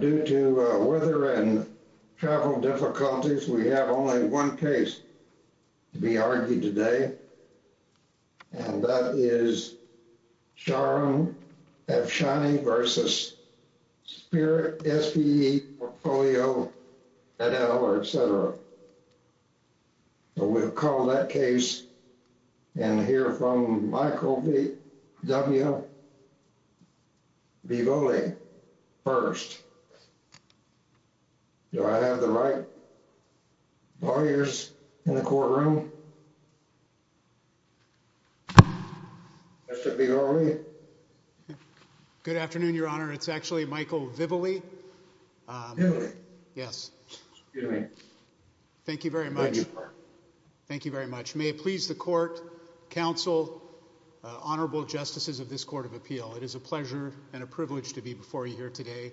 Due to weather and travel difficulties, we have only one case to be argued today, and that is Sharon Afshani v. Spirit SPE Portfolio et al. We'll call that case and hear from Michael W. Vivoli first. Do I have the right lawyers in the courtroom? Mr. Vivoli. Good afternoon, your honor. It's actually Michael Vivoli. May it please the court, counsel, honorable justices of this court of appeal, it is a pleasure and a privilege to be before you here today.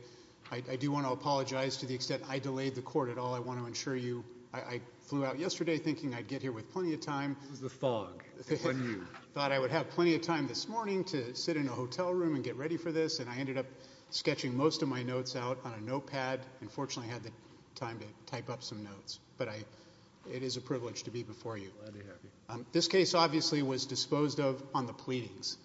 I do want to apologize to the extent I delayed the court at all. I want to ensure you, I flew out yesterday thinking I'd get here with plenty of time. Thought I would have plenty of time this morning to sit in a hotel room and get ready for this, and I ended up sketching most of my notes out on a notepad and fortunately had the time to type up some notes, but it is a privilege to be before you. This case obviously was disposed of on the pleadings.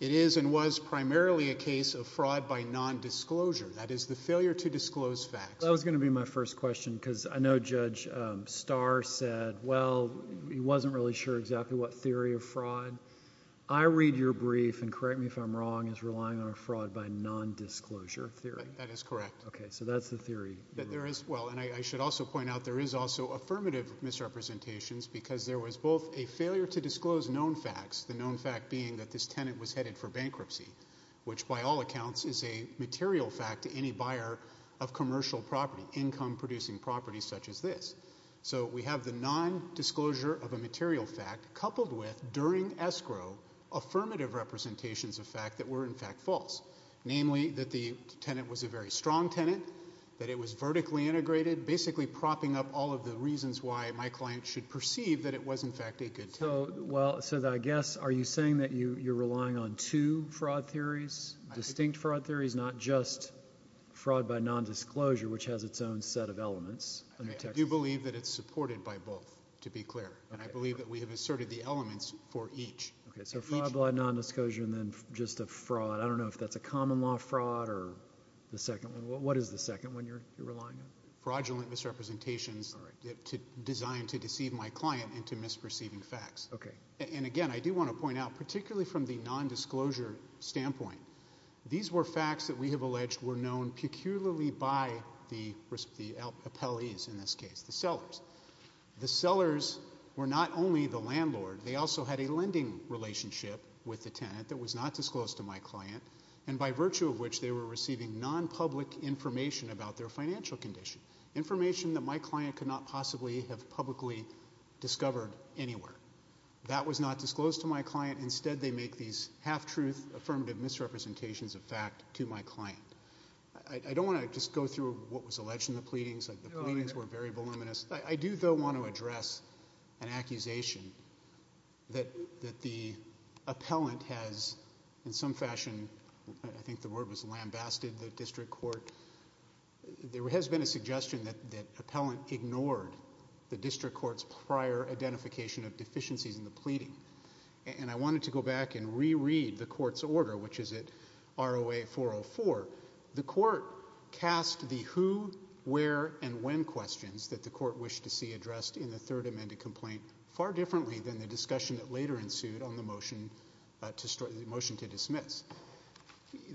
It is and was primarily a case of fraud by non-disclosure, that is the failure to disclose facts. That was going to be my first question because I know Judge Starr said, well, he wasn't really sure exactly what theory of fraud. I read your brief and correct me if I'm wrong, is relying on a fraud by non-disclosure theory. That is correct. Okay, so that's the theory. There is, well, and I should also point out there is also affirmative misrepresentations because there was both a failure to disclose known facts, the known fact being that this tenant was headed for bankruptcy, which by all accounts is a material fact to any buyer of commercial property, income producing property such as this. So we have the non-disclosure of a false, namely that the tenant was a very strong tenant, that it was vertically integrated, basically propping up all of the reasons why my client should perceive that it was, in fact, a good tenant. So I guess, are you saying that you're relying on two fraud theories, distinct fraud theories, not just fraud by non-disclosure, which has its own set of elements? I do believe that it's supported by both, to be clear, and I believe that we have asserted the elements for each. Okay, so fraud by non-disclosure and then just a fraud. I don't know if that's a common law fraud or the second one. What is the second one you're relying on? Fraudulent misrepresentations designed to deceive my client into misperceiving facts. Okay. And again, I do want to point out, particularly from the non-disclosure standpoint, these were facts that we have alleged were known peculiarly by the appellees in this case, the sellers. The sellers were not only the landlord, they also had a lending relationship with the tenant that was not disclosed to my client, and by virtue of which, they were receiving non-public information about their financial condition, information that my client could not possibly have publicly discovered anywhere. That was not disclosed to my client. Instead, they make these half-truth affirmative misrepresentations of fact to my client. I don't want to just go through what was alleged in the pleadings. The pleadings were very voluminous. I do, though, want to address an accusation that the appellant has, in some fashion, I think the word was lambasted the district court. There has been a suggestion that the appellant ignored the district court's prior identification of deficiencies in the pleading, and I wanted to go back and reread the court's order, which is at ROA 404. The court cast the who, where, and when questions that the court wished to see addressed in the third amended complaint far differently than the discussion that later ensued on the motion to dismiss.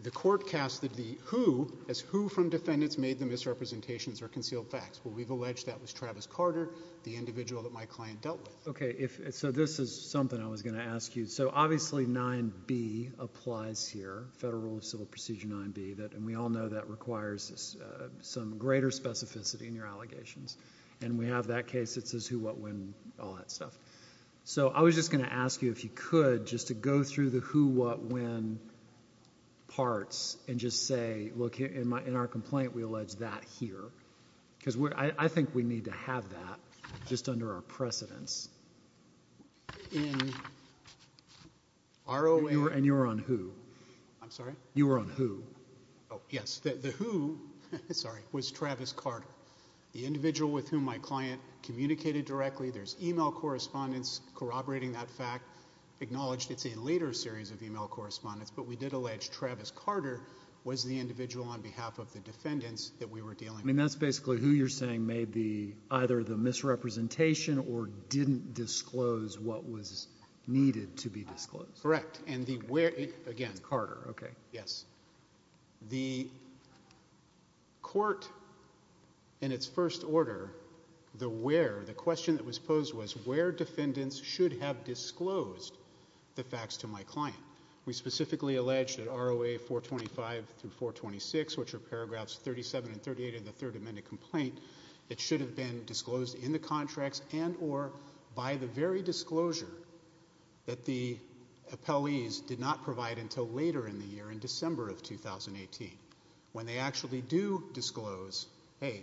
The court cast the who as who from defendants made the misrepresentations or concealed facts. Well, we've alleged that was Travis Carter, the individual that my client dealt with. So this is something I was going to ask you. So obviously 9b applies here, Federal Rule of Civil Procedure 9b, and we all know that requires some greater specificity in your allegations, and we have that case that says who, what, when, all that stuff. So I was just going to ask you, if you could, just to go through the who, what, when parts and just say, look, in our complaint, we allege that here, because I think we need to have that just under our precedence. And you were on who? I'm sorry? You were on who? Oh, yes. The who, sorry, was Travis Carter, the individual with whom my client communicated directly. There's email correspondence corroborating that fact, acknowledged it's a later series of email correspondence, but we did on behalf of the defendants that we were dealing with. I mean, that's basically who you're saying made the, either the misrepresentation or didn't disclose what was needed to be disclosed. Correct. And the where, again, Carter. Okay. Yes. The court in its first order, the where, the question that was posed was where defendants should have disclosed the facts to my client. We specifically allege that ROA 425 through 426, which are paragraphs 37 and 38 of the third amended complaint, it should have been disclosed in the contracts and or by the very disclosure that the appellees did not provide until later in the year, in December of 2018, when they actually do disclose, hey,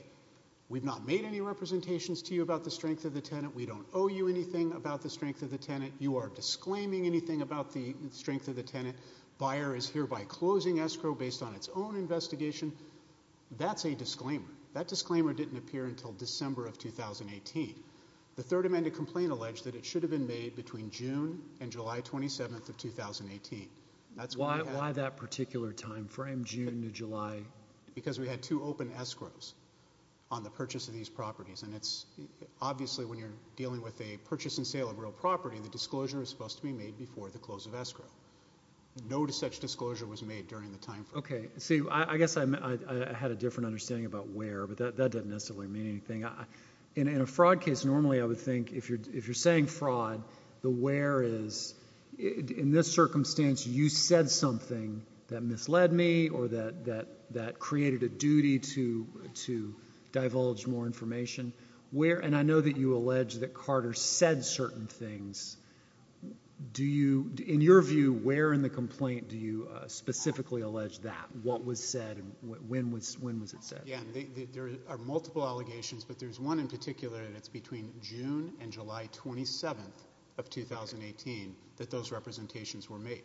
we've not made any representations to you about the strength of the tenant. We don't owe you anything about the strength of the tenant. You are disclaiming anything about the strength of the tenant. Buyer is hereby closing escrow based on its own investigation. That's a disclaimer. That disclaimer didn't appear until December of 2018. The third amended complaint alleged that it should have been made between June and July 27th of 2018. That's why that particular timeframe, June to July, because we had two open escrows on the purchase of these properties. And it's obviously when you're dealing with a purchase and sale of real property, the disclosure is supposed to be made before the close of escrow. No such disclosure was made during the time frame. Okay. See, I guess I had a different understanding about where, but that doesn't necessarily mean anything. In a fraud case, normally I would think if you're saying fraud, the where is, in this circumstance, you said something that misled me or that created a duty to divulge more information. Where, and I know you allege that Carter said certain things. In your view, where in the complaint do you specifically allege that? What was said and when was it said? Yeah, there are multiple allegations, but there's one in particular, and it's between June and July 27th of 2018 that those representations were made.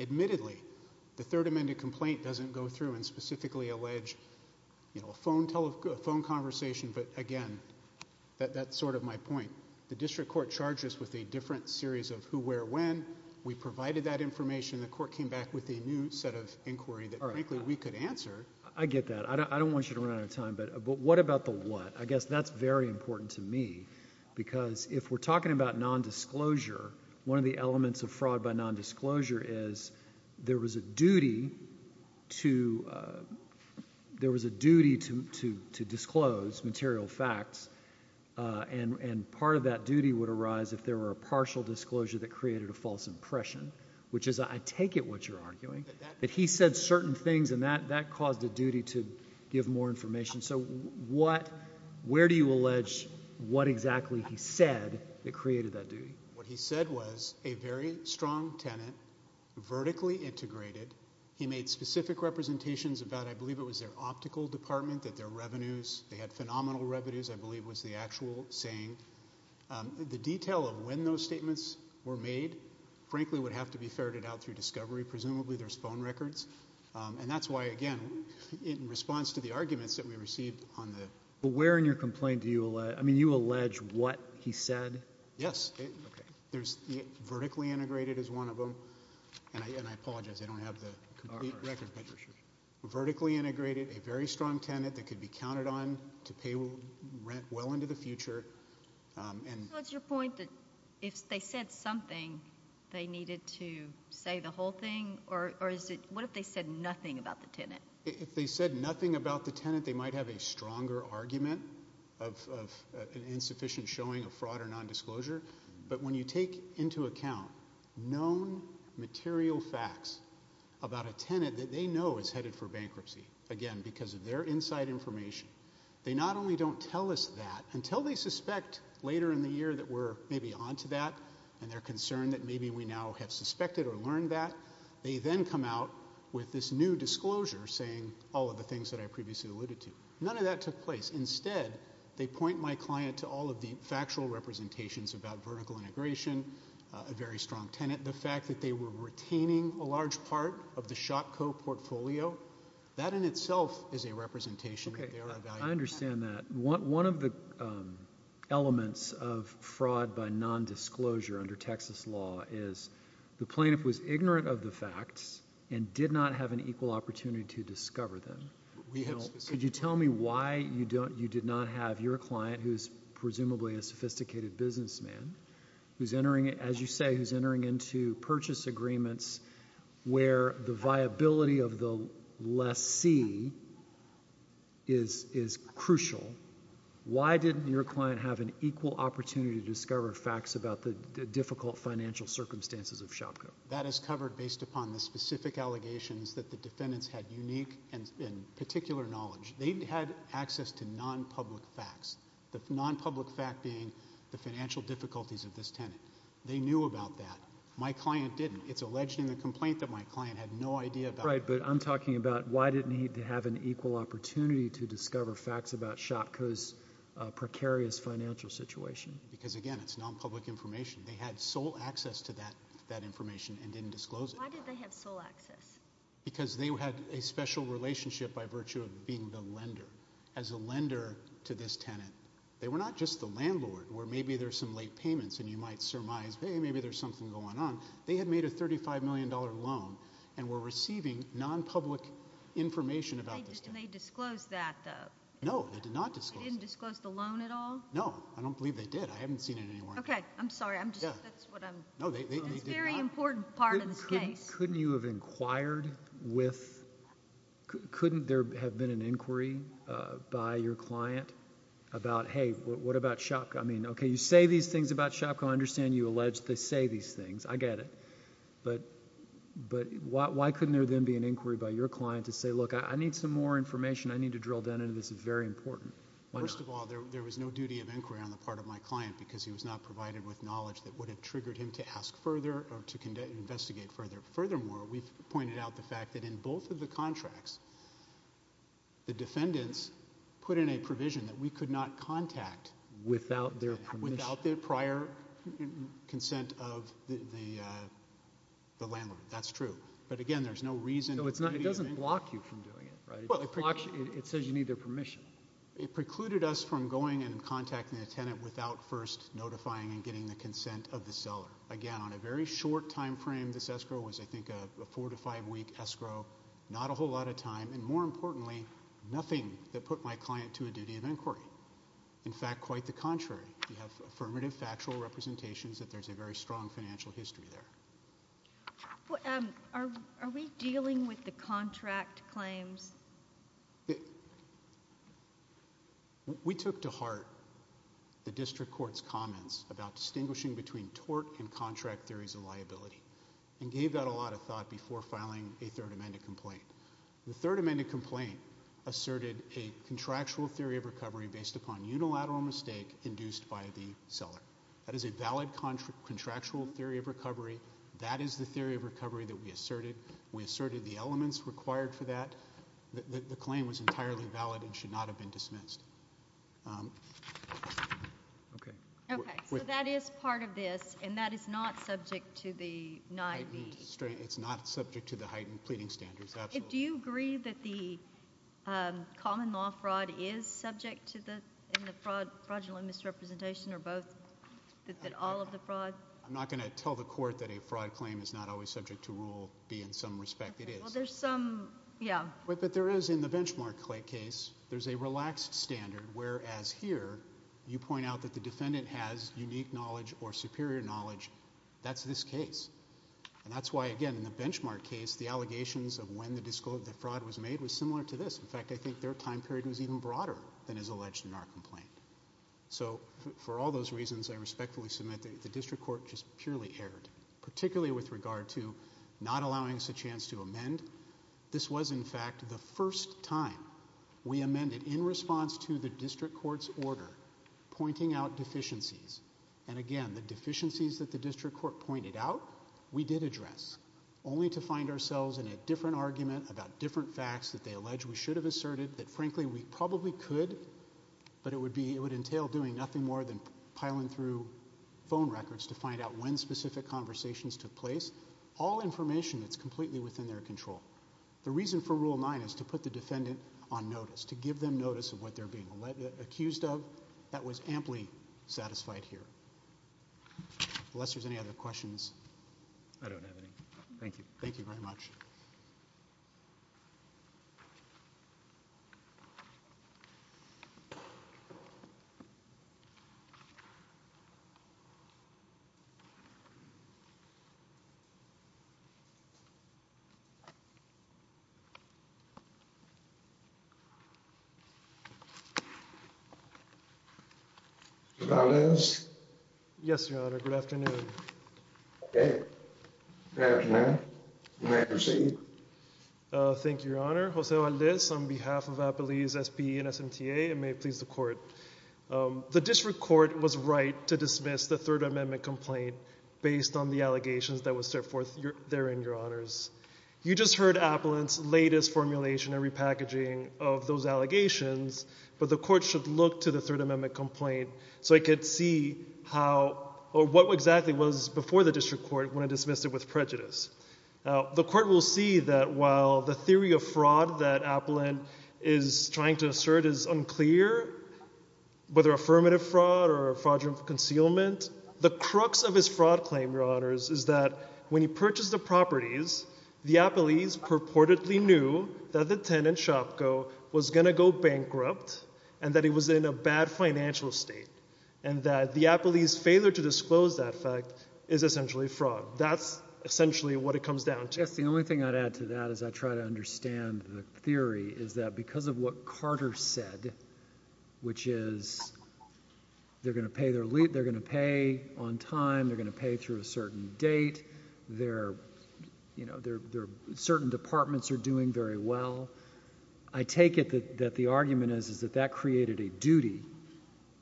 Admittedly, the third amended complaint doesn't go through and specifically allege a phone conversation, but again, that's sort of my point. The district court charges with a different series of who, where, when. We provided that information. The court came back with a new set of inquiry that frankly we could answer. I get that. I don't want you to run out of time, but what about the what? I guess that's very important to me because if we're talking about non-disclosure, one of the elements of fraud by non-disclosure is there was a duty to disclose material facts, and part of that duty would arise if there were a partial disclosure that created a false impression, which is I take it what you're arguing, that he said certain things and that caused a duty to give more information. So what, where do you allege what exactly he said that created that duty? What he said was a very strong tenant, vertically integrated. He made specific representations about, I believe it was their optical department, that their revenues, they had phenomenal revenues, I believe was the actual saying. The detail of when those statements were made frankly would have to be ferreted out through discovery. Presumably there's phone records, and that's why again in response to the arguments that we received on the... But where in your complaint do you allege, I mean you allege what he said? Yes. Okay. There's, vertically integrated is one of them, and I apologize, I don't have the complete record, but vertically integrated, a very strong tenant that could be counted on to pay rent well into the future, and... So it's your point that if they said something, they needed to say the whole thing, or is it, what if they said nothing about the tenant? If they said nothing about the tenant, they might have a stronger argument of an insufficient showing of fraud or non-disclosure, but when you take into account known material facts about a tenant that they know is headed for bankruptcy, again because of their inside information, they not only don't tell us that until they suspect later in the year that we're maybe onto that, and they're concerned that maybe we now have suspected or learned that, they then come out with this new disclosure saying all of the things that I previously alluded to. None of that took place. Instead, they point my client to all of the factual representations about vertical integration, a very strong tenant, the fact that they were retaining a large part of the ShopCo portfolio, that in itself is a representation that they are evaluating. I understand that. One of the elements of fraud by non-disclosure under Texas law is the plaintiff was ignorant of the facts and did not have an equal opportunity to discover them. Could you tell me why you did not have your client, who's presumably a sophisticated businessman, who's entering, as you say, who's entering into purchase agreements where the viability of the lessee is crucial. Why didn't your client have an equal opportunity to discover facts about the tenant? That is covered based upon the specific allegations that the defendants had unique and particular knowledge. They had access to non-public facts, the non-public fact being the financial difficulties of this tenant. They knew about that. My client didn't. It's alleged in the complaint that my client had no idea about it. Right, but I'm talking about why didn't he have an equal opportunity to discover facts about ShopCo's precarious financial situation? Because, again, it's non-public information. They had sole access to that information and didn't disclose it. Why did they have sole access? Because they had a special relationship by virtue of being the lender, as a lender to this tenant. They were not just the landlord, where maybe there's some late payments and you might surmise, hey, maybe there's something going on. They had made a $35 million loan and were receiving non-public information about this. Did they disclose that though? No, they did not disclose it. They didn't disclose the loan at all? No, I don't believe they did. I haven't seen it anywhere. Okay, I'm sorry. That's very important part of this case. Couldn't you have inquired with, couldn't there have been an inquiry by your client about, hey, what about ShopCo? I mean, okay, you say these things about ShopCo. I understand you allege they say these things. I get it, but why couldn't there then be an inquiry by your client to say, look, I need some more information. I need to drill down into this. It's very difficult to get an inquiry on the part of my client because he was not provided with knowledge that would have triggered him to ask further or to investigate further. Furthermore, we've pointed out the fact that in both of the contracts, the defendants put in a provision that we could not contact without their prior consent of the landlord. That's true. But again, there's no reason. No, it doesn't block you from doing it, right? It says you need their permission. It precluded us from going and contacting the tenant without first notifying and getting the consent of the seller. Again, on a very short timeframe, this escrow was, I think, a four to five week escrow, not a whole lot of time, and more importantly, nothing that put my client to a duty of inquiry. In fact, quite the contrary. You have affirmative factual representations that there's a very strong financial history there. Are we dealing with the contract claims? We took to heart the district court's comments about distinguishing between tort and contract theories of liability and gave that a lot of thought before filing a third amended complaint. The third amended complaint asserted a contractual theory of recovery based upon unilateral mistake induced by the seller. That is a valid contractual theory of recovery. That is the theory of recovery that we asserted. We asserted the elements required for that. The claim was entirely valid and should not have been dismissed. Okay. Okay. So that is part of this and that is not subject to the... It's not subject to the heightened pleading standards. Absolutely. Do you agree that the common law fraud is subject to the fraudulent misrepresentation or both? All of the fraud? I'm not going to tell the court that a fraud claim is not always subject to rule B in some respect. It is. But there is in the benchmark case, there's a relaxed standard whereas here, you point out that the defendant has unique knowledge or superior knowledge. That's this case. And that's why, again, in the benchmark case, the allegations of when the fraud was made was similar to this. In fact, I think their time period was even broader than is alleged in our complaint. So for all those reasons, I respectfully submit that the district court just purely erred, particularly with regard to not allowing us a chance to amend. This was, in fact, the first time we amended in response to the district court's order, pointing out deficiencies. And again, the deficiencies that the district court pointed out, we did address, only to find ourselves in a different argument about different facts that they allege we should have asserted, that frankly we probably could, but it would entail doing nothing more than piling through phone records to find out when specific conversations took place, all information that's completely within their control. The reason for Rule 9 is to put the defendant on notice, to give them notice of what they're being accused of. That was amply satisfied here. Unless there's any other questions. I don't have any. Thank you. Thank you very much. Good afternoon. May I proceed? Thank you, Your Honor. Jose Valdez on behalf of Appalachia SBA and SMTA and may it please the court. The district court was right to dismiss the Third Amendment complaint based on the allegations that were set forth therein, Your Honors. You just heard Appalachia's latest formulation and repackaging of those allegations, but the court should look to the Third Amendment complaint so it could see how or what exactly was before the district court when it dismissed it with prejudice. The court will see that while the theory of fraud that Appalachia is trying to assert is unclear, whether affirmative fraud or fraudulent concealment, the crux of his fraud claim, Your Honors, is that when he purchased the properties, the Appalachians purportedly knew that the tenant, Shopko, was going to go bankrupt and that he was in a bad financial state and that the Appalachians' failure to disclose that fact is essentially fraud. That's essentially what it comes down to. Yes, the only thing I'd add to that as I try to understand the theory is that because of what Carter said, which is they're going to pay on time, they're going to pay through a certain date, certain departments are doing very well, I take it that the argument is that that created a duty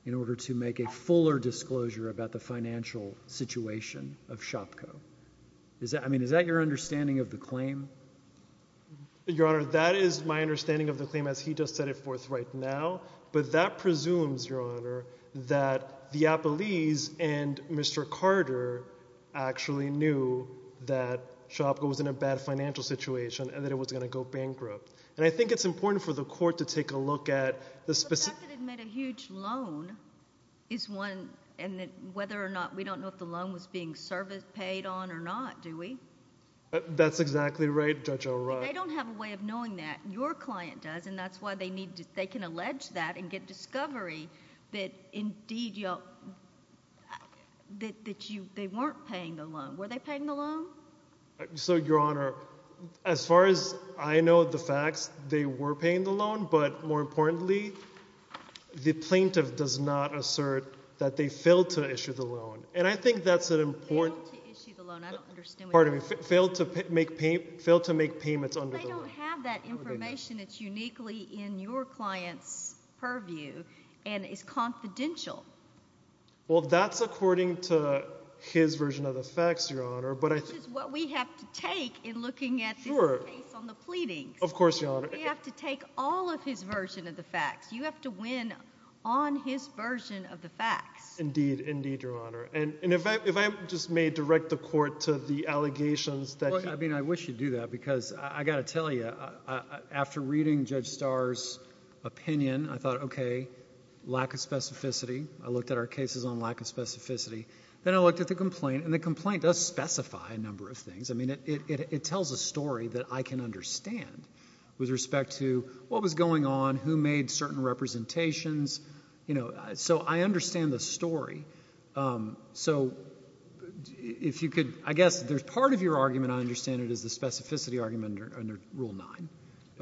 in order to make a fuller disclosure about the financial situation of Shopko. Is that your understanding of the claim? Your Honor, that is my understanding of the claim as he just set it forth right now, but that presumes, Your Honor, that the Appalachians and Mr. Carter actually knew that Shopko was in a bad financial situation and that it was going to go bankrupt. And I think it's important for the court to take a look at the specific... But the fact that it made a huge loan is one, and that whether or not, we don't know if the loan was being service paid on or not, do we? That's exactly right, Judge O'Rourke. I don't have a way of knowing that. Your client does, and that's why they need to, they can allege that and get discovery that indeed y'all, that you, they weren't paying the loan. Were they paying the loan? So, Your Honor, as far as I know the facts, they were paying the loan, but more importantly, the plaintiff does not assert that they failed to issue the loan. And I think that's an important... Failed to make payments under the loan. They don't have that information. It's uniquely in your client's purview and is confidential. Well, that's according to his version of the facts, Your Honor, but I think... Which is what we have to take in looking at this case on the pleadings. Of course, Your Honor. We have to take all of his version of the facts. You have to win on his version of the facts. Indeed, indeed, Your Honor. And if I just may direct the court to the allegations that... I mean, I wish you'd do that because I got to tell you, after reading Judge Starr's opinion, I thought, okay, lack of specificity. I looked at our cases on lack of specificity. Then I looked at the complaint and the complaint does specify a number of things. I mean, it tells a story that I can understand with respect to what was going on, who made certain representations. You know, so I understand the story. So if you could... I guess part of your argument, I understand, is the specificity argument under Rule 9.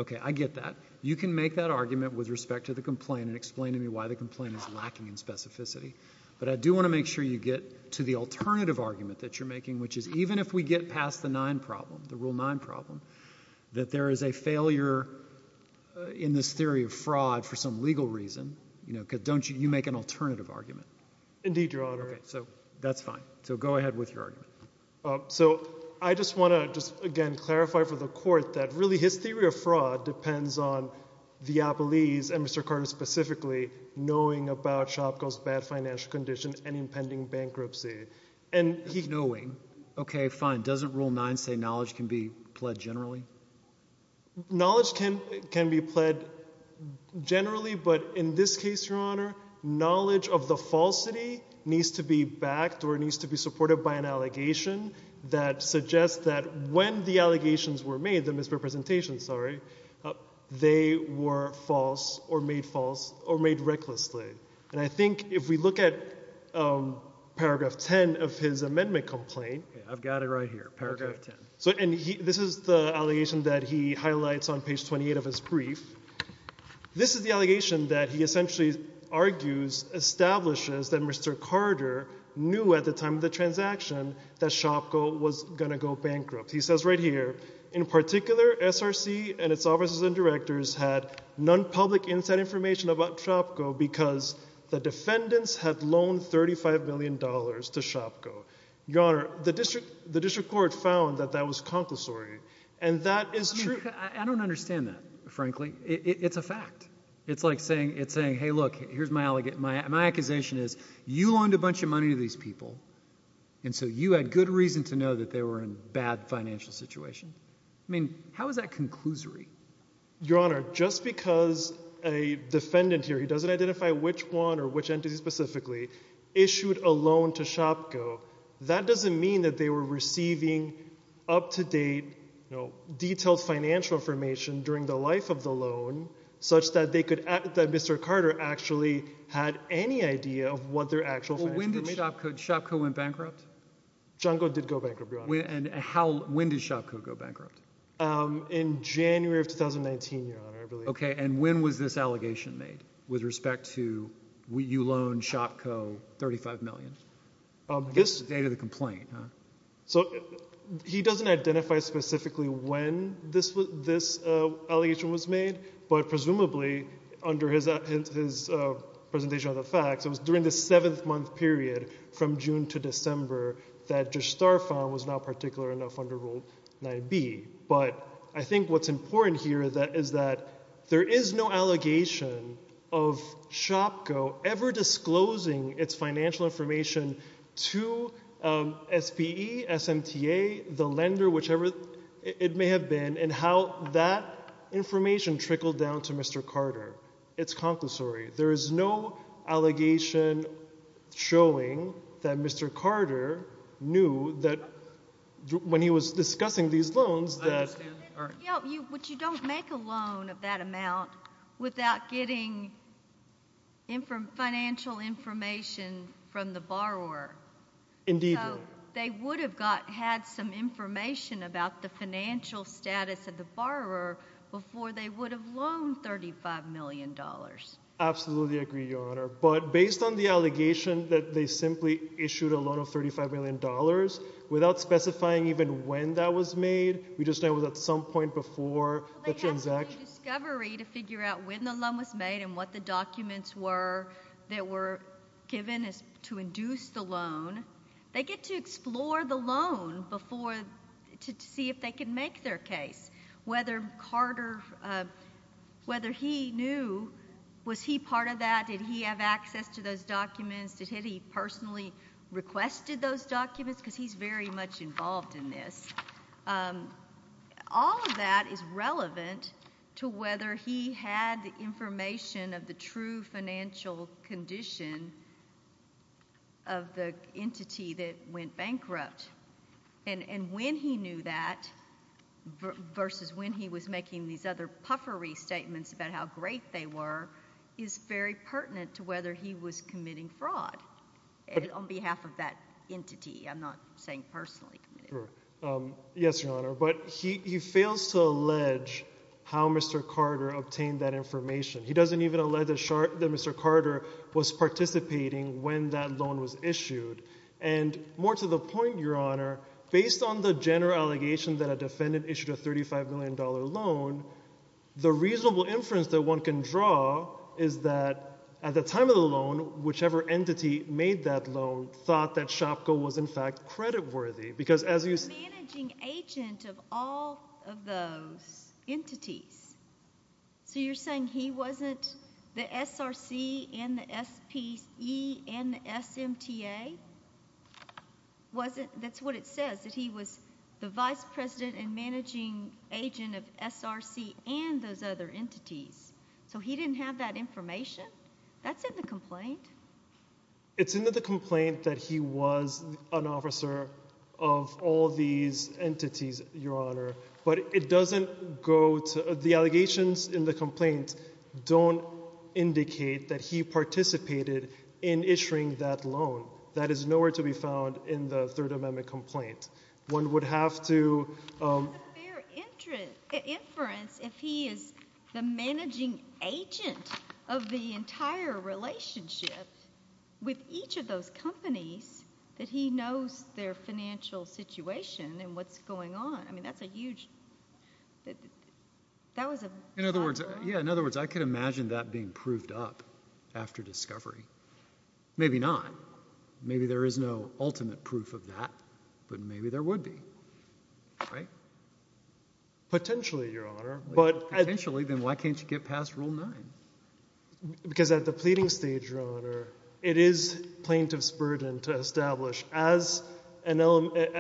Okay, I get that. You can make that argument with respect to the complaint and explain to me why the complaint is lacking in specificity, but I do want to make sure you get to the alternative argument that you're making, which is even if we get past the 9 problem, the Rule 9 problem, that there is a failure in this theory of fraud for some legal reason, you know, because you make an alternative argument. Indeed, Your Honor. Okay, so that's fine. So go ahead with your argument. So I just want to just, again, clarify for the court that really his theory of fraud depends on Viapolese and Mr. Carter specifically knowing about Shopkill's bad financial condition and impending bankruptcy. And he... Knowing. Okay, fine. Doesn't Rule 9 say knowledge can be pled generally? Knowledge can be pled generally, but in this case, Your Honor, knowledge of the falsity needs to be backed or needs to be supported by an allegation that suggests that when the allegations were made, the misrepresentations, sorry, they were false or made false or made recklessly. And I think if we look at paragraph 10 of his amendment complaint... I've got it right here, paragraph 10. So, and this is the allegation that he highlights on page 28 of his brief. This is the allegation that he essentially argues, establishes that Mr. Carter knew at the time of the transaction that Shopkill was going to go bankrupt. He says right here, in particular, SRC and its officers and directors had non-public inside information about Shopkill because the defendants had loaned $35 million to Shopkill. Your Honor, the district court found that that was concussory, and that is true. I don't understand that, frankly. It's a fact. It's like saying, hey, look, here's my allegation. My accusation is you loaned a bunch of money to these people, and so you had good reason to know that they were in a bad financial situation. I mean, how is that conclusory? Your Honor, just because a defendant here, he doesn't identify which one or which entity specifically, issued a loan to Shopkill, that doesn't mean that they were receiving up-to-date, you know, detailed financial information during the life of the loan, such that they could, that Mr. Carter actually had any idea of what their actual financial Well, when did Shopkill, Shopkill went bankrupt? Junko did go bankrupt, Your Honor. And how, when did Shopkill go bankrupt? In January of 2019, Your Honor, I believe. And when was this allegation made, with respect to you loaned Shopko $35 million? This is the date of the complaint, huh? So he doesn't identify specifically when this allegation was made, but presumably, under his presentation of the facts, it was during the seventh month period, from June to December, that Judge Starr found was not particular enough under Rule 9b. But I think what's important here is that there is no allegation of Shopko ever disclosing its financial information to SPE, SMTA, the lender, whichever it may have been, and how that information trickled down to Mr. Carter. It's conclusory. There is no allegation showing that Mr. Carter knew that when he was discussing these loans that... But you don't make a loan of that amount without getting financial information from the borrower. Indeed, Your Honor. They would have had some information about the financial status of the borrower before they would have loaned $35 million. Absolutely agree, Your Honor. But based on the allegation that they simply issued a loan of $35 million without specifying even when that was made, we just know it was at some point before the transaction. Well, they have to do discovery to figure out when the loan was made and what the documents were that were given to induce the loan. They get to explore the loan before, to see if they can make their case, whether Carter, whether he knew, was he part of that? Did he have access to those documents? Did he personally requested those documents? Because he's very much involved in this. All of that is relevant to whether he had the information of the true financial condition of the entity that went bankrupt. And when he knew that versus when he was making these other puffery statements about how great they were, is very pertinent to whether he was committing fraud on behalf of that entity. I'm not saying personally. Yes, Your Honor. But he fails to allege how Mr. Carter obtained that information. He doesn't even allege that Mr. Carter was participating when that loan was issued. And more to the point, Your Honor, based on the general allegation that a defendant issued a $35 million loan, the reasonable inference that one can draw is that at the time of the loan, whichever entity made that loan thought that SHOPCO was, in fact, creditworthy. Because as you— The managing agent of all of those entities. So you're saying he wasn't the SRC and the SPE and the SMTA? Wasn't—that's what it says, that he was the vice president and managing agent of SRC and those other entities. So he didn't have that information? That's in the complaint. It's in the complaint that he was an officer of all these entities, Your Honor. But it doesn't go to—the allegations in the complaint don't indicate that he participated in issuing that loan. That is nowhere to be found in the Third Amendment complaint. One would have to— With a fair inference, if he is the managing agent of the entire relationship with each of those companies, that he knows their financial situation and what's going on. I mean, that's a huge—that was a— In other words, yeah, in other words, I could imagine that being proved up after discovery. Maybe not. Maybe there is no ultimate proof of that, but maybe there would be, right? Potentially, Your Honor, but— Potentially, then why can't you get past Rule 9? Because at the pleading stage, Your Honor, it is plaintiff's burden to establish as an—to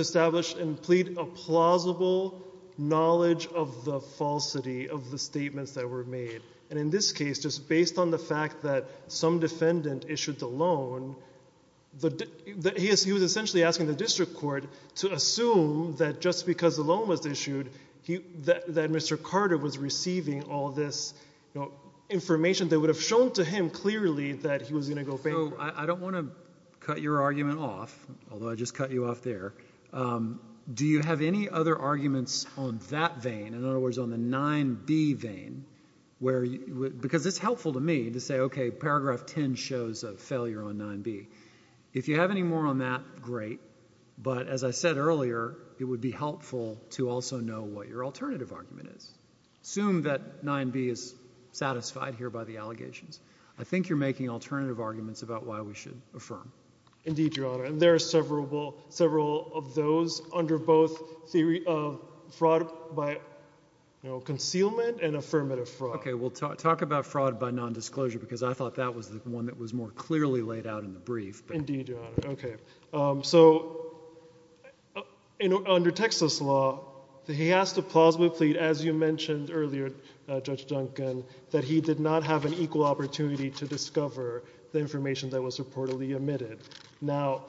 establish and plead a plausible knowledge of the falsity of the statements that were made. And in this case, just based on the fact that some defendant issued the loan, he was essentially asking the district court to assume that just because the loan was issued, that Mr. Carter was receiving all this information that would have shown to him clearly that he was going to go bankrupt. I don't want to cut your argument off, although I just cut you off there. Do you have any other arguments on that vein? Where—because it's helpful to me to say, okay, paragraph 10 shows a failure on 9b. If you have any more on that, great. But as I said earlier, it would be helpful to also know what your alternative argument is. Assume that 9b is satisfied here by the allegations. I think you're making alternative arguments about why we should affirm. Indeed, Your Honor, and there are several of those under both theory of fraud by, you know, concealment and affirmative fraud. Okay, we'll talk about fraud by nondisclosure, because I thought that was the one that was more clearly laid out in the brief. Indeed, Your Honor. Okay, so under Texas law, he asked a plausible plea, as you mentioned earlier, Judge Duncan, that he did not have an equal opportunity to discover the information that was reportedly omitted. Now,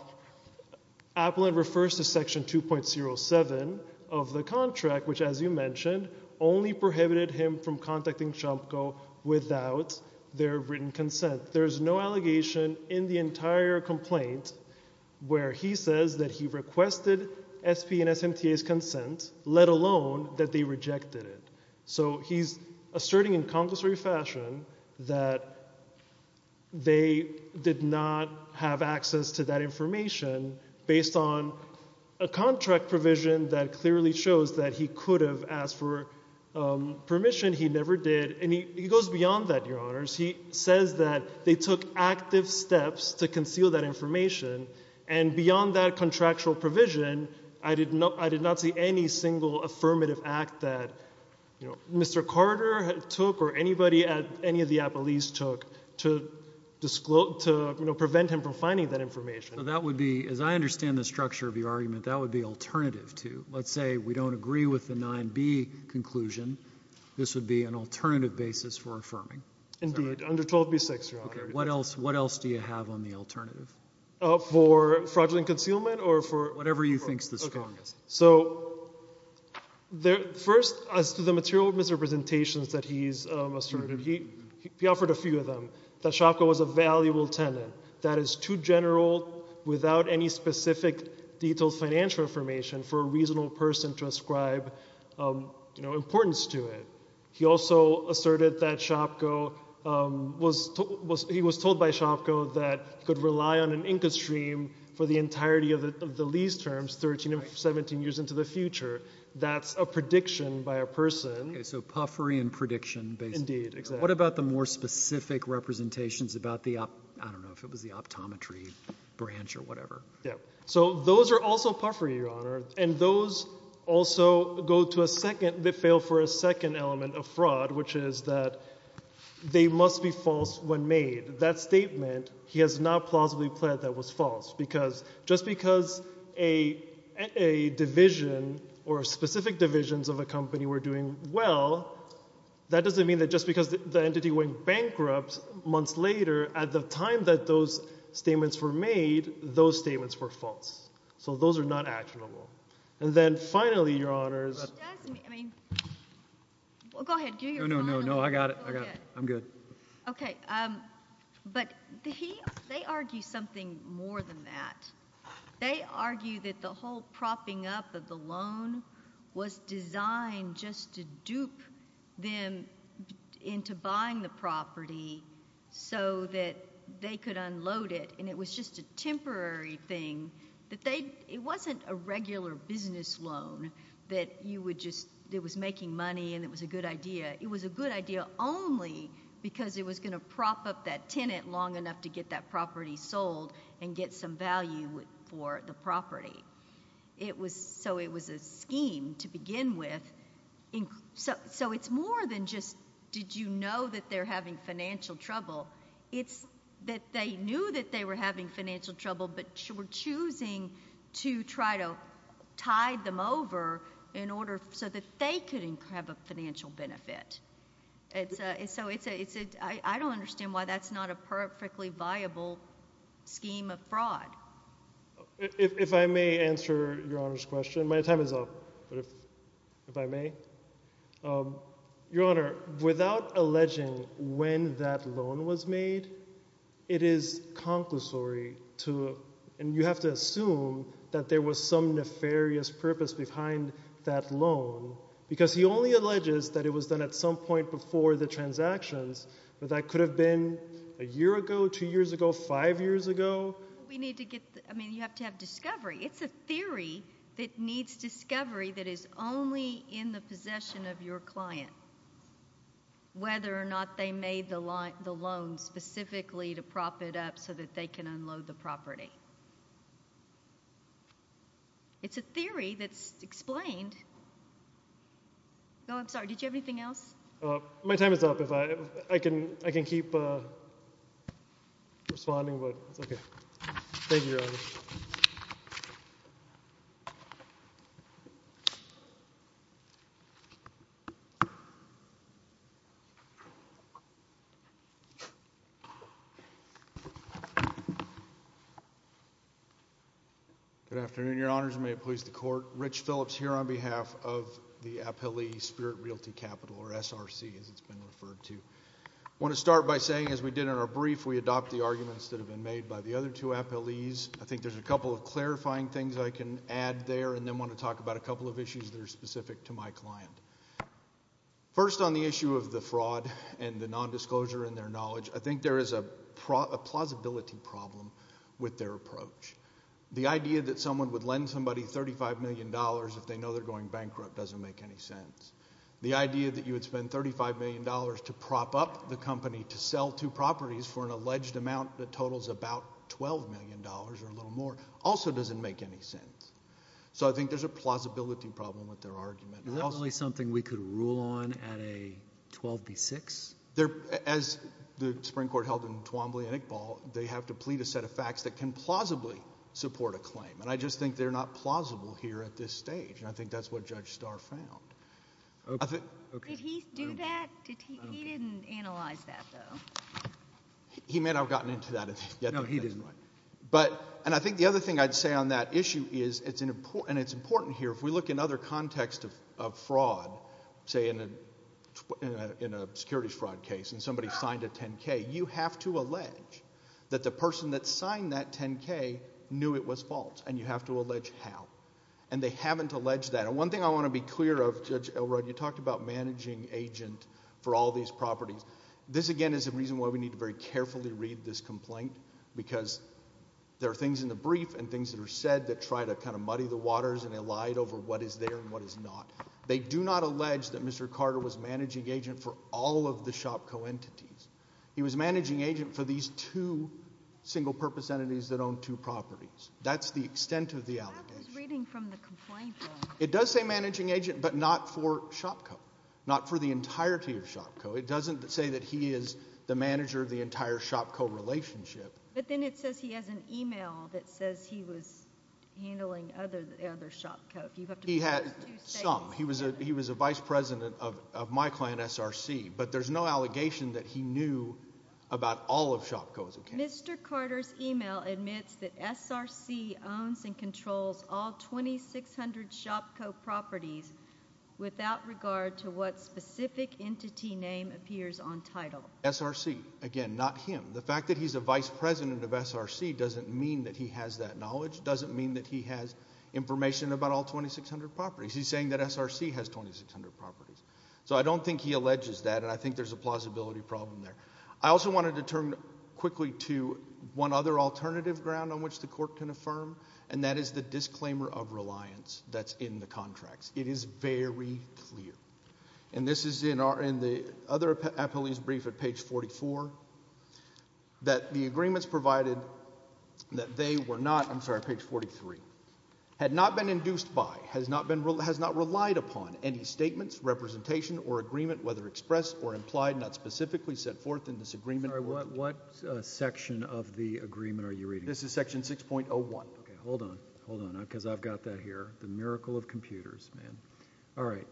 Appellant refers to Section 2.07 of the contract, which, as you mentioned, only prohibited him from contacting CHAMCO without their written consent. There's no allegation in the entire complaint where he says that he requested SP and SMTA's consent, let alone that they rejected it. So he's asserting in conglomerate fashion that they did not have access to that information based on a contract provision that clearly shows that he could have asked for permission. He never did. And he goes beyond that, Your Honors. He says that they took active steps to conceal that information, and beyond that contractual provision, I did not see any single affirmative act that Mr. Carter took or anybody at any of the appellees took to prevent him from finding that information. So that would be, as I understand the structure of your argument, that would be alternative to, let's say we don't agree with the 9b conclusion, this would be an alternative basis for affirming. Indeed, under 12b-6, Your Honor. Okay, what else do you have on the alternative? For fraudulent concealment or for— Whatever you think is the strongest. So first, as to the material misrepresentations that he's asserted, he offered a few of them. That SHOPCO was a valuable tenant that is too general without any specific detailed financial information for a reasonable person to ascribe importance to it. He also asserted that SHOPCO was—he was told by SHOPCO that he could rely on an a person. Okay, so puffery and prediction, basically. Indeed, exactly. What about the more specific representations about the—I don't know if it was the optometry branch or whatever? Yeah, so those are also puffery, Your Honor, and those also go to a second—they fail for a second element of fraud, which is that they must be false when made. That statement, he has not plausibly pled that was false, because just because a division or specific divisions of a company were doing well, that doesn't mean that just because the entity went bankrupt months later, at the time that those statements were made, those statements were false. So those are not actionable. And then finally, Your Honors— It does mean—I mean—well, go ahead. No, no, no, no, I got it. I got it. I'm good. Okay, but they argue something more than that. They argue that the whole propping up of the loan was designed just to dupe them into buying the property so that they could unload it, and it was just a temporary thing. It wasn't a regular business loan that you would just—that was making money and it was a good idea only because it was going to prop up that tenant long enough to get that property sold and get some value for the property. So it was a scheme to begin with. So it's more than just, did you know that they're having financial trouble? It's that they knew that they were having financial trouble but were choosing to try to over in order so that they could have a financial benefit. So it's a—I don't understand why that's not a perfectly viable scheme of fraud. If I may answer Your Honors' question. My time is up, but if I may. Your Honor, without alleging when that loan was made, it is conclusory to—and you have to assume that there was some nefarious purpose behind that loan because he only alleges that it was done at some point before the transactions, but that could have been a year ago, two years ago, five years ago. We need to get—I mean, you have to have discovery. It's a theory that needs discovery that is only in the possession of your client, whether or not they made the loan specifically to prop it up so that they can unload the property. It's a theory that's explained. No, I'm sorry. Did you have anything else? My time is up. If I—I can keep responding, but it's okay. Thank you, Your Honor. Good afternoon, Your Honors. May it please the Court. Rich Phillips here on behalf of the appellee Spirit Realty Capital, or SRC, as it's been referred to. I want to start by saying, as we did in our brief, we adopt the arguments that have been made by the other two appellees. I think there's a couple of clarifying things I can add there and then want to talk about a couple of issues that are specific to my client. First, on the issue of the fraud and the nondisclosure in their knowledge, I think there is a plausibility problem with their approach. The idea that someone would lend somebody $35 million if they know they're going bankrupt doesn't make any sense. The idea that you would spend $35 million to prop up the company to sell two properties for an alleged amount that totals about $12 million or a little more also doesn't make any sense. So I think there's a plausibility problem with their argument. Is that really something we could rule on at a 12B6? As the Supreme Court held in Twombly and Iqbal, they have to plead a set of facts that can plausibly support a claim. I just think they're not plausible here at this stage. I think that's what Judge Starr found. Did he do that? He didn't analyze that, though. He may not have gotten into that yet. No, he didn't. And I think the other thing I'd say on that issue is, and it's important here, if we look in other contexts of fraud, say in a securities fraud case and somebody signed a 10K, you have to allege that the person that signed that 10K knew it was false. And you have to allege how. And they haven't alleged that. And one thing I want to be clear of, Judge Elrod, you talked about managing agent for all these properties. This, again, is the reason why we need to very carefully read this complaint, because there are things in the brief and things that are said that try to kind of muddy the waters and elide over what is there and what is not. They do not allege that Mr. Carter was managing agent for all of the shop co-entities. He was managing agent for these two single-purpose entities that own two properties. That's the extent of the allegation. But I was reading from the complaint. It does say managing agent, but not for ShopCo, not for the entirety of ShopCo. It doesn't say that he is the manager of the entire ShopCo relationship. But then it says he has an email that says he was handling other ShopCo. If you have to pause two seconds. He had some. He was a vice president of my client, SRC. But there's no allegation that he knew about all of ShopCo as a candidate. Mr. Carter's email admits that SRC owns and controls all 2,600 ShopCo properties without regard to what specific entity name appears on title. SRC. Again, not him. The fact that he's a vice president of SRC doesn't mean that he has that knowledge, doesn't mean that he has information about all 2,600 properties. He's saying that SRC has 2,600 properties. So I don't think he alleges that, and I think there's a plausibility problem there. I also wanted to turn quickly to one other alternative ground on which the court can affirm, and that is the disclaimer of reliance that's in the contracts. It is very clear. And this is in the other appellee's brief at page 44, that the agreements provided that they were not, I'm sorry, page 43, had not been induced by, has not relied upon any statements, representation, or agreement, whether expressed or implied, not specifically set forth in this agreement. Sorry, what section of the agreement are you reading? This is section 6.01. Okay, hold on, hold on, because I've got that here. The miracle of computers, man. All right,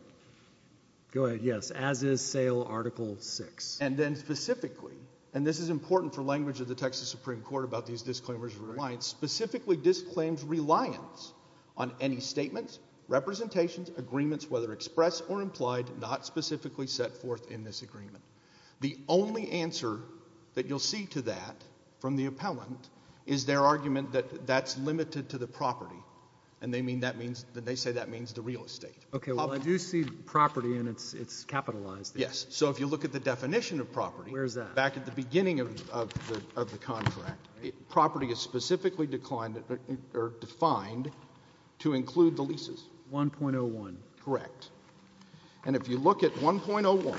go ahead. Yes, as is SAIL article 6. And then specifically, and this is important for language of the Texas Supreme Court about these disclaimers of reliance, specifically disclaims reliance on any statements, representations, agreements, whether expressed or implied, not specifically set forth in this agreement. The only answer that you'll see to that from the appellant is their argument that that's limited to the property. And they mean that means, they say that means the real estate. Okay, well, I do see property, and it's capitalized. Yes, so if you look at the definition of property. Where is that? Back at the beginning of the contract, property is specifically declined or defined to include the leases. 1.01. Correct. And if you look at 1.01,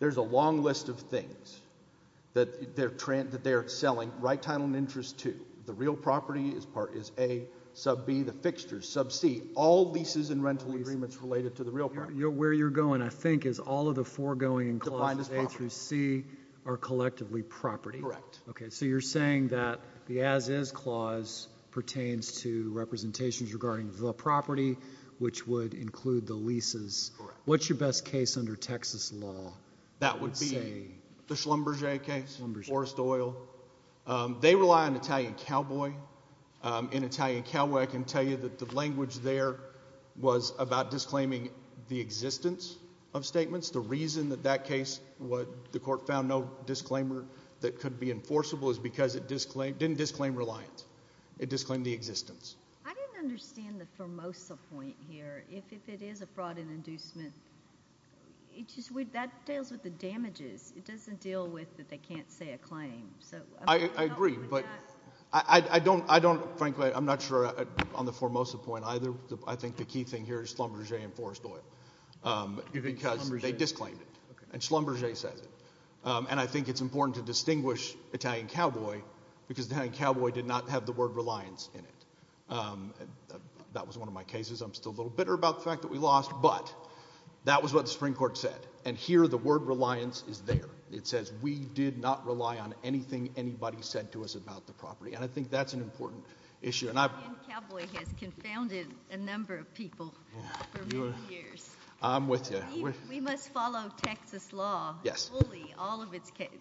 there's a long list of things that they're selling right title and interest to. The real property is A, sub B, the fixtures, sub C, all leases and rental agreements related to the real property. Where you're going, I think, is all of the foregoing in clause A through C are collectively property. Correct. Okay, so you're saying that the as-is clause pertains to representations regarding the property, which would include the leases. Correct. What's your best case under Texas law? That would be the Schlumberger case, Forest Oil. They rely on Italian Cowboy. In Italian Cowboy, I can tell you that the language there was about disclaiming the existence of statements. The reason that that case, the court found no disclaimer that could be enforceable is because it didn't disclaim reliance. It disclaimed the existence. I didn't understand the Formosa point here. If it is a fraud and inducement, that deals with the damages. It doesn't deal with that they can't say a claim. I agree, but frankly, I'm not sure on the Formosa point either. I think the key thing here is Schlumberger and Forest Oil because they disclaimed it, and Schlumberger says it. And I think it's important to distinguish Italian Cowboy because Italian Cowboy did not have the word reliance in it. That was one of my cases. I'm still a little bitter about the fact that we lost, but that was what the Supreme Court said. And here, the word reliance is there. It says we did not rely on anything anybody said to us about the property, and I think that's an important issue. Italian Cowboy has confounded a number of people for many years. I'm with you. We must follow Texas law fully, all of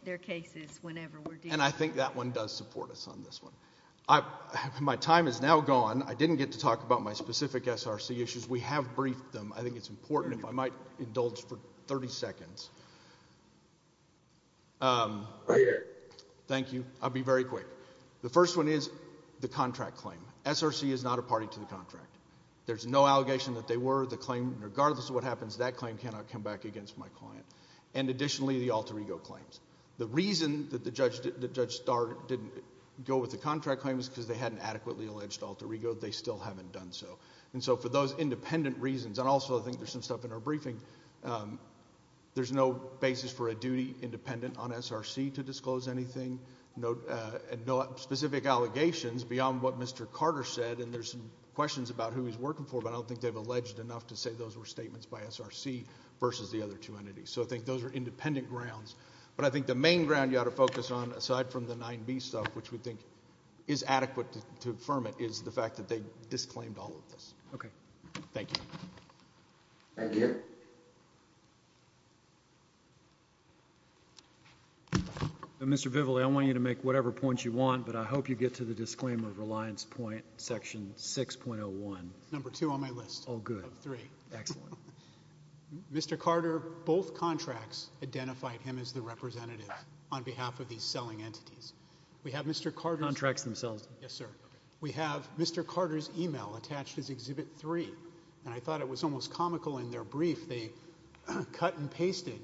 their cases, whenever we're dealing with them. And I think that one does support us on this one. My time is now gone. I didn't get to talk about my specific SRC issues. We have briefed them. I think it's important. If I might indulge for 30 seconds. Thank you. I'll be very quick. The first one is the contract claim. SRC is not a party to the contract. There's no allegation that they were. The claim, regardless of what happens, that claim cannot come back against my client. And additionally, the Alter Ego claims. The reason that Judge Starr didn't go with the contract claim is because they hadn't adequately alleged Alter Ego. They still haven't done so. And so for those independent reasons, and also I think there's some stuff in our briefing, there's no basis for a duty independent on SRC to disclose anything. No specific allegations beyond what Mr. Carter said. And there's some questions about who he's working for, but I don't think they've alleged enough to say those were statements by SRC versus the other two entities. So I think those are independent grounds. But I think the main ground you ought to focus on, aside from the 9B stuff, which we think is adequate to affirm it, is the fact that they disclaimed all of this. Okay. Thank you. Thank you. Mr. Vivaldi, I want you to make whatever points you want, but I hope you get to the disclaimer of Reliance Point Section 6.01. Number two on my list. Oh, good. Of three. Excellent. Mr. Carter, both contracts identified him as the representative on behalf of these selling entities. We have Mr. Carter's- Contracts themselves. Yes, sir. We have Mr. Carter's email attached as Exhibit 3. And I thought it was almost comical in their brief. They cut and pasted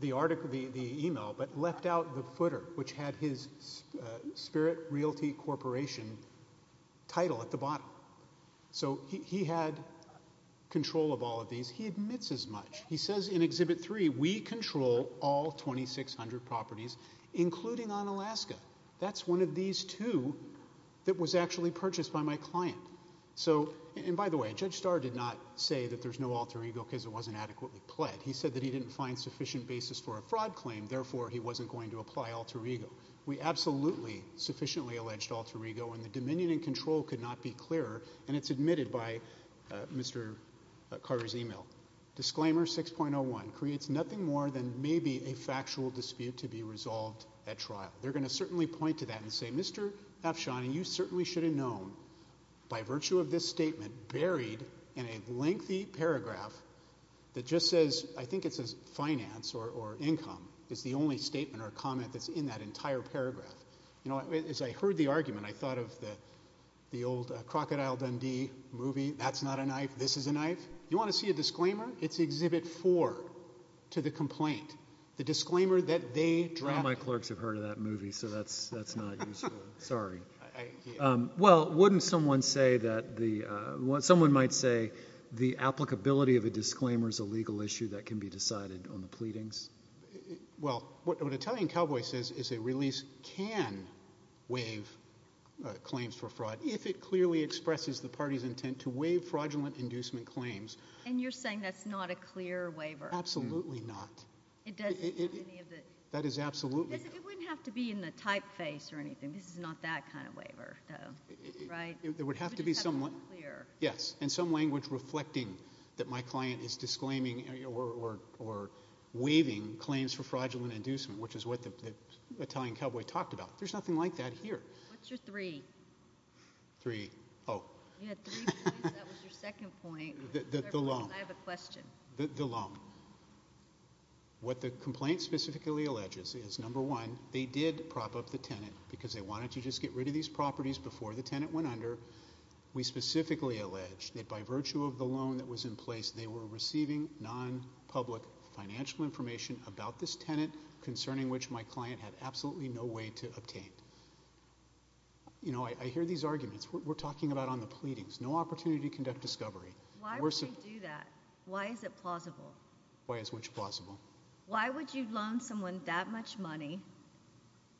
the email, but left out the footer, which had his Spirit Realty Corporation title at the bottom. So he had control of all of these. He admits as much. He says in Exhibit 3, we control all 2,600 properties, including on Alaska. That's one of these two that was actually purchased by my client. So, and by the way, Judge Starr did not say that there's no alter ego because it wasn't adequately pled. He said that he didn't find sufficient basis for a fraud claim. Therefore, he wasn't going to apply alter ego. We absolutely sufficiently alleged alter ego, and the dominion and control could not be clearer. And it's admitted by Mr. Carter's email. Disclaimer 6.01 creates nothing more than maybe a factual dispute to be resolved at trial. They're going to certainly point to that and say, Mr. Afshan, you certainly should have by virtue of this statement, buried in a lengthy paragraph that just says, I think it says finance or income is the only statement or comment that's in that entire paragraph. You know, as I heard the argument, I thought of the old Crocodile Dundee movie. That's not a knife. This is a knife. You want to see a disclaimer? It's Exhibit 4 to the complaint. The disclaimer that they draft. My clerks have heard of that movie, so that's not useful. Sorry. Well, wouldn't someone say that the, someone might say the applicability of a disclaimer is a legal issue that can be decided on the pleadings? Well, what Italian Cowboy says is a release can waive claims for fraud if it clearly expresses the party's intent to waive fraudulent inducement claims. And you're saying that's not a clear waiver? Absolutely not. That is absolutely not. It wouldn't have to be in the typeface or anything. This is not that kind of waiver, though, right? It would have to be somewhat clear. Yes. And some language reflecting that my client is disclaiming or waiving claims for fraudulent inducement, which is what the Italian Cowboy talked about. There's nothing like that here. What's your three? Three. Oh. You had three points. That was your second point. The long. I have a question. The long. What the complaint specifically alleges is, number one, they did prop up the tenant because they wanted to just get rid of these properties before the tenant went under. We specifically allege that by virtue of the loan that was in place, they were receiving non-public financial information about this tenant, concerning which my client had absolutely no way to obtain. You know, I hear these arguments. We're talking about on the pleadings. No opportunity to conduct discovery. Why would they do that? Why is it plausible? Why is which plausible? Why would you loan someone that much money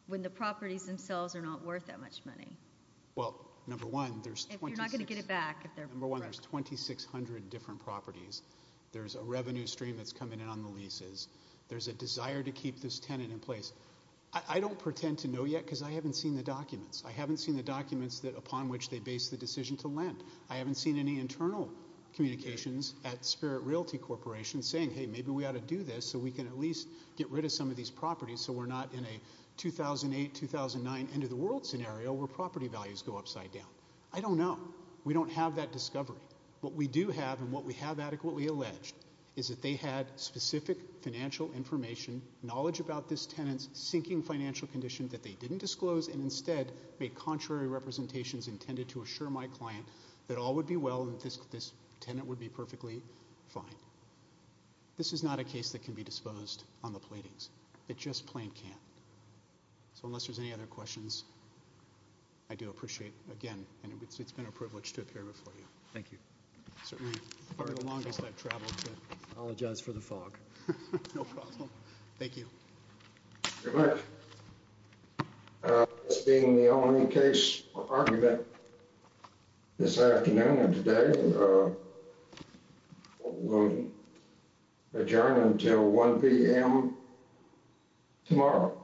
when the properties themselves are not worth that much money? Well, number one, there's 2600 different properties. There's a revenue stream that's coming in on the leases. There's a desire to keep this tenant in place. I don't pretend to know yet because I haven't seen the documents. I haven't seen the documents that upon which they base the decision to lend. I haven't seen any internal communications at Spirit Realty Corporation saying, hey, maybe we ought to do this so we can at least get rid of some of these properties so we're not in a 2008, 2009 end of the world scenario where property values go upside down. I don't know. We don't have that discovery. What we do have and what we have adequately alleged is that they had specific financial information, knowledge about this tenant's sinking financial condition that they didn't disclose and instead made contrary representations intended to assure my client that all would be well and this tenant would be perfectly fine. This is not a case that can be disposed on the platings. It just plain can't. So unless there's any other questions, I do appreciate, again, and it's been a privilege to appear before you. Thank you. Certainly for the longest I've traveled. I apologize for the fog. No problem. Thank you. Thank you very much. This being the only case for argument this afternoon and today, we'll adjourn until 1 p.m. tomorrow.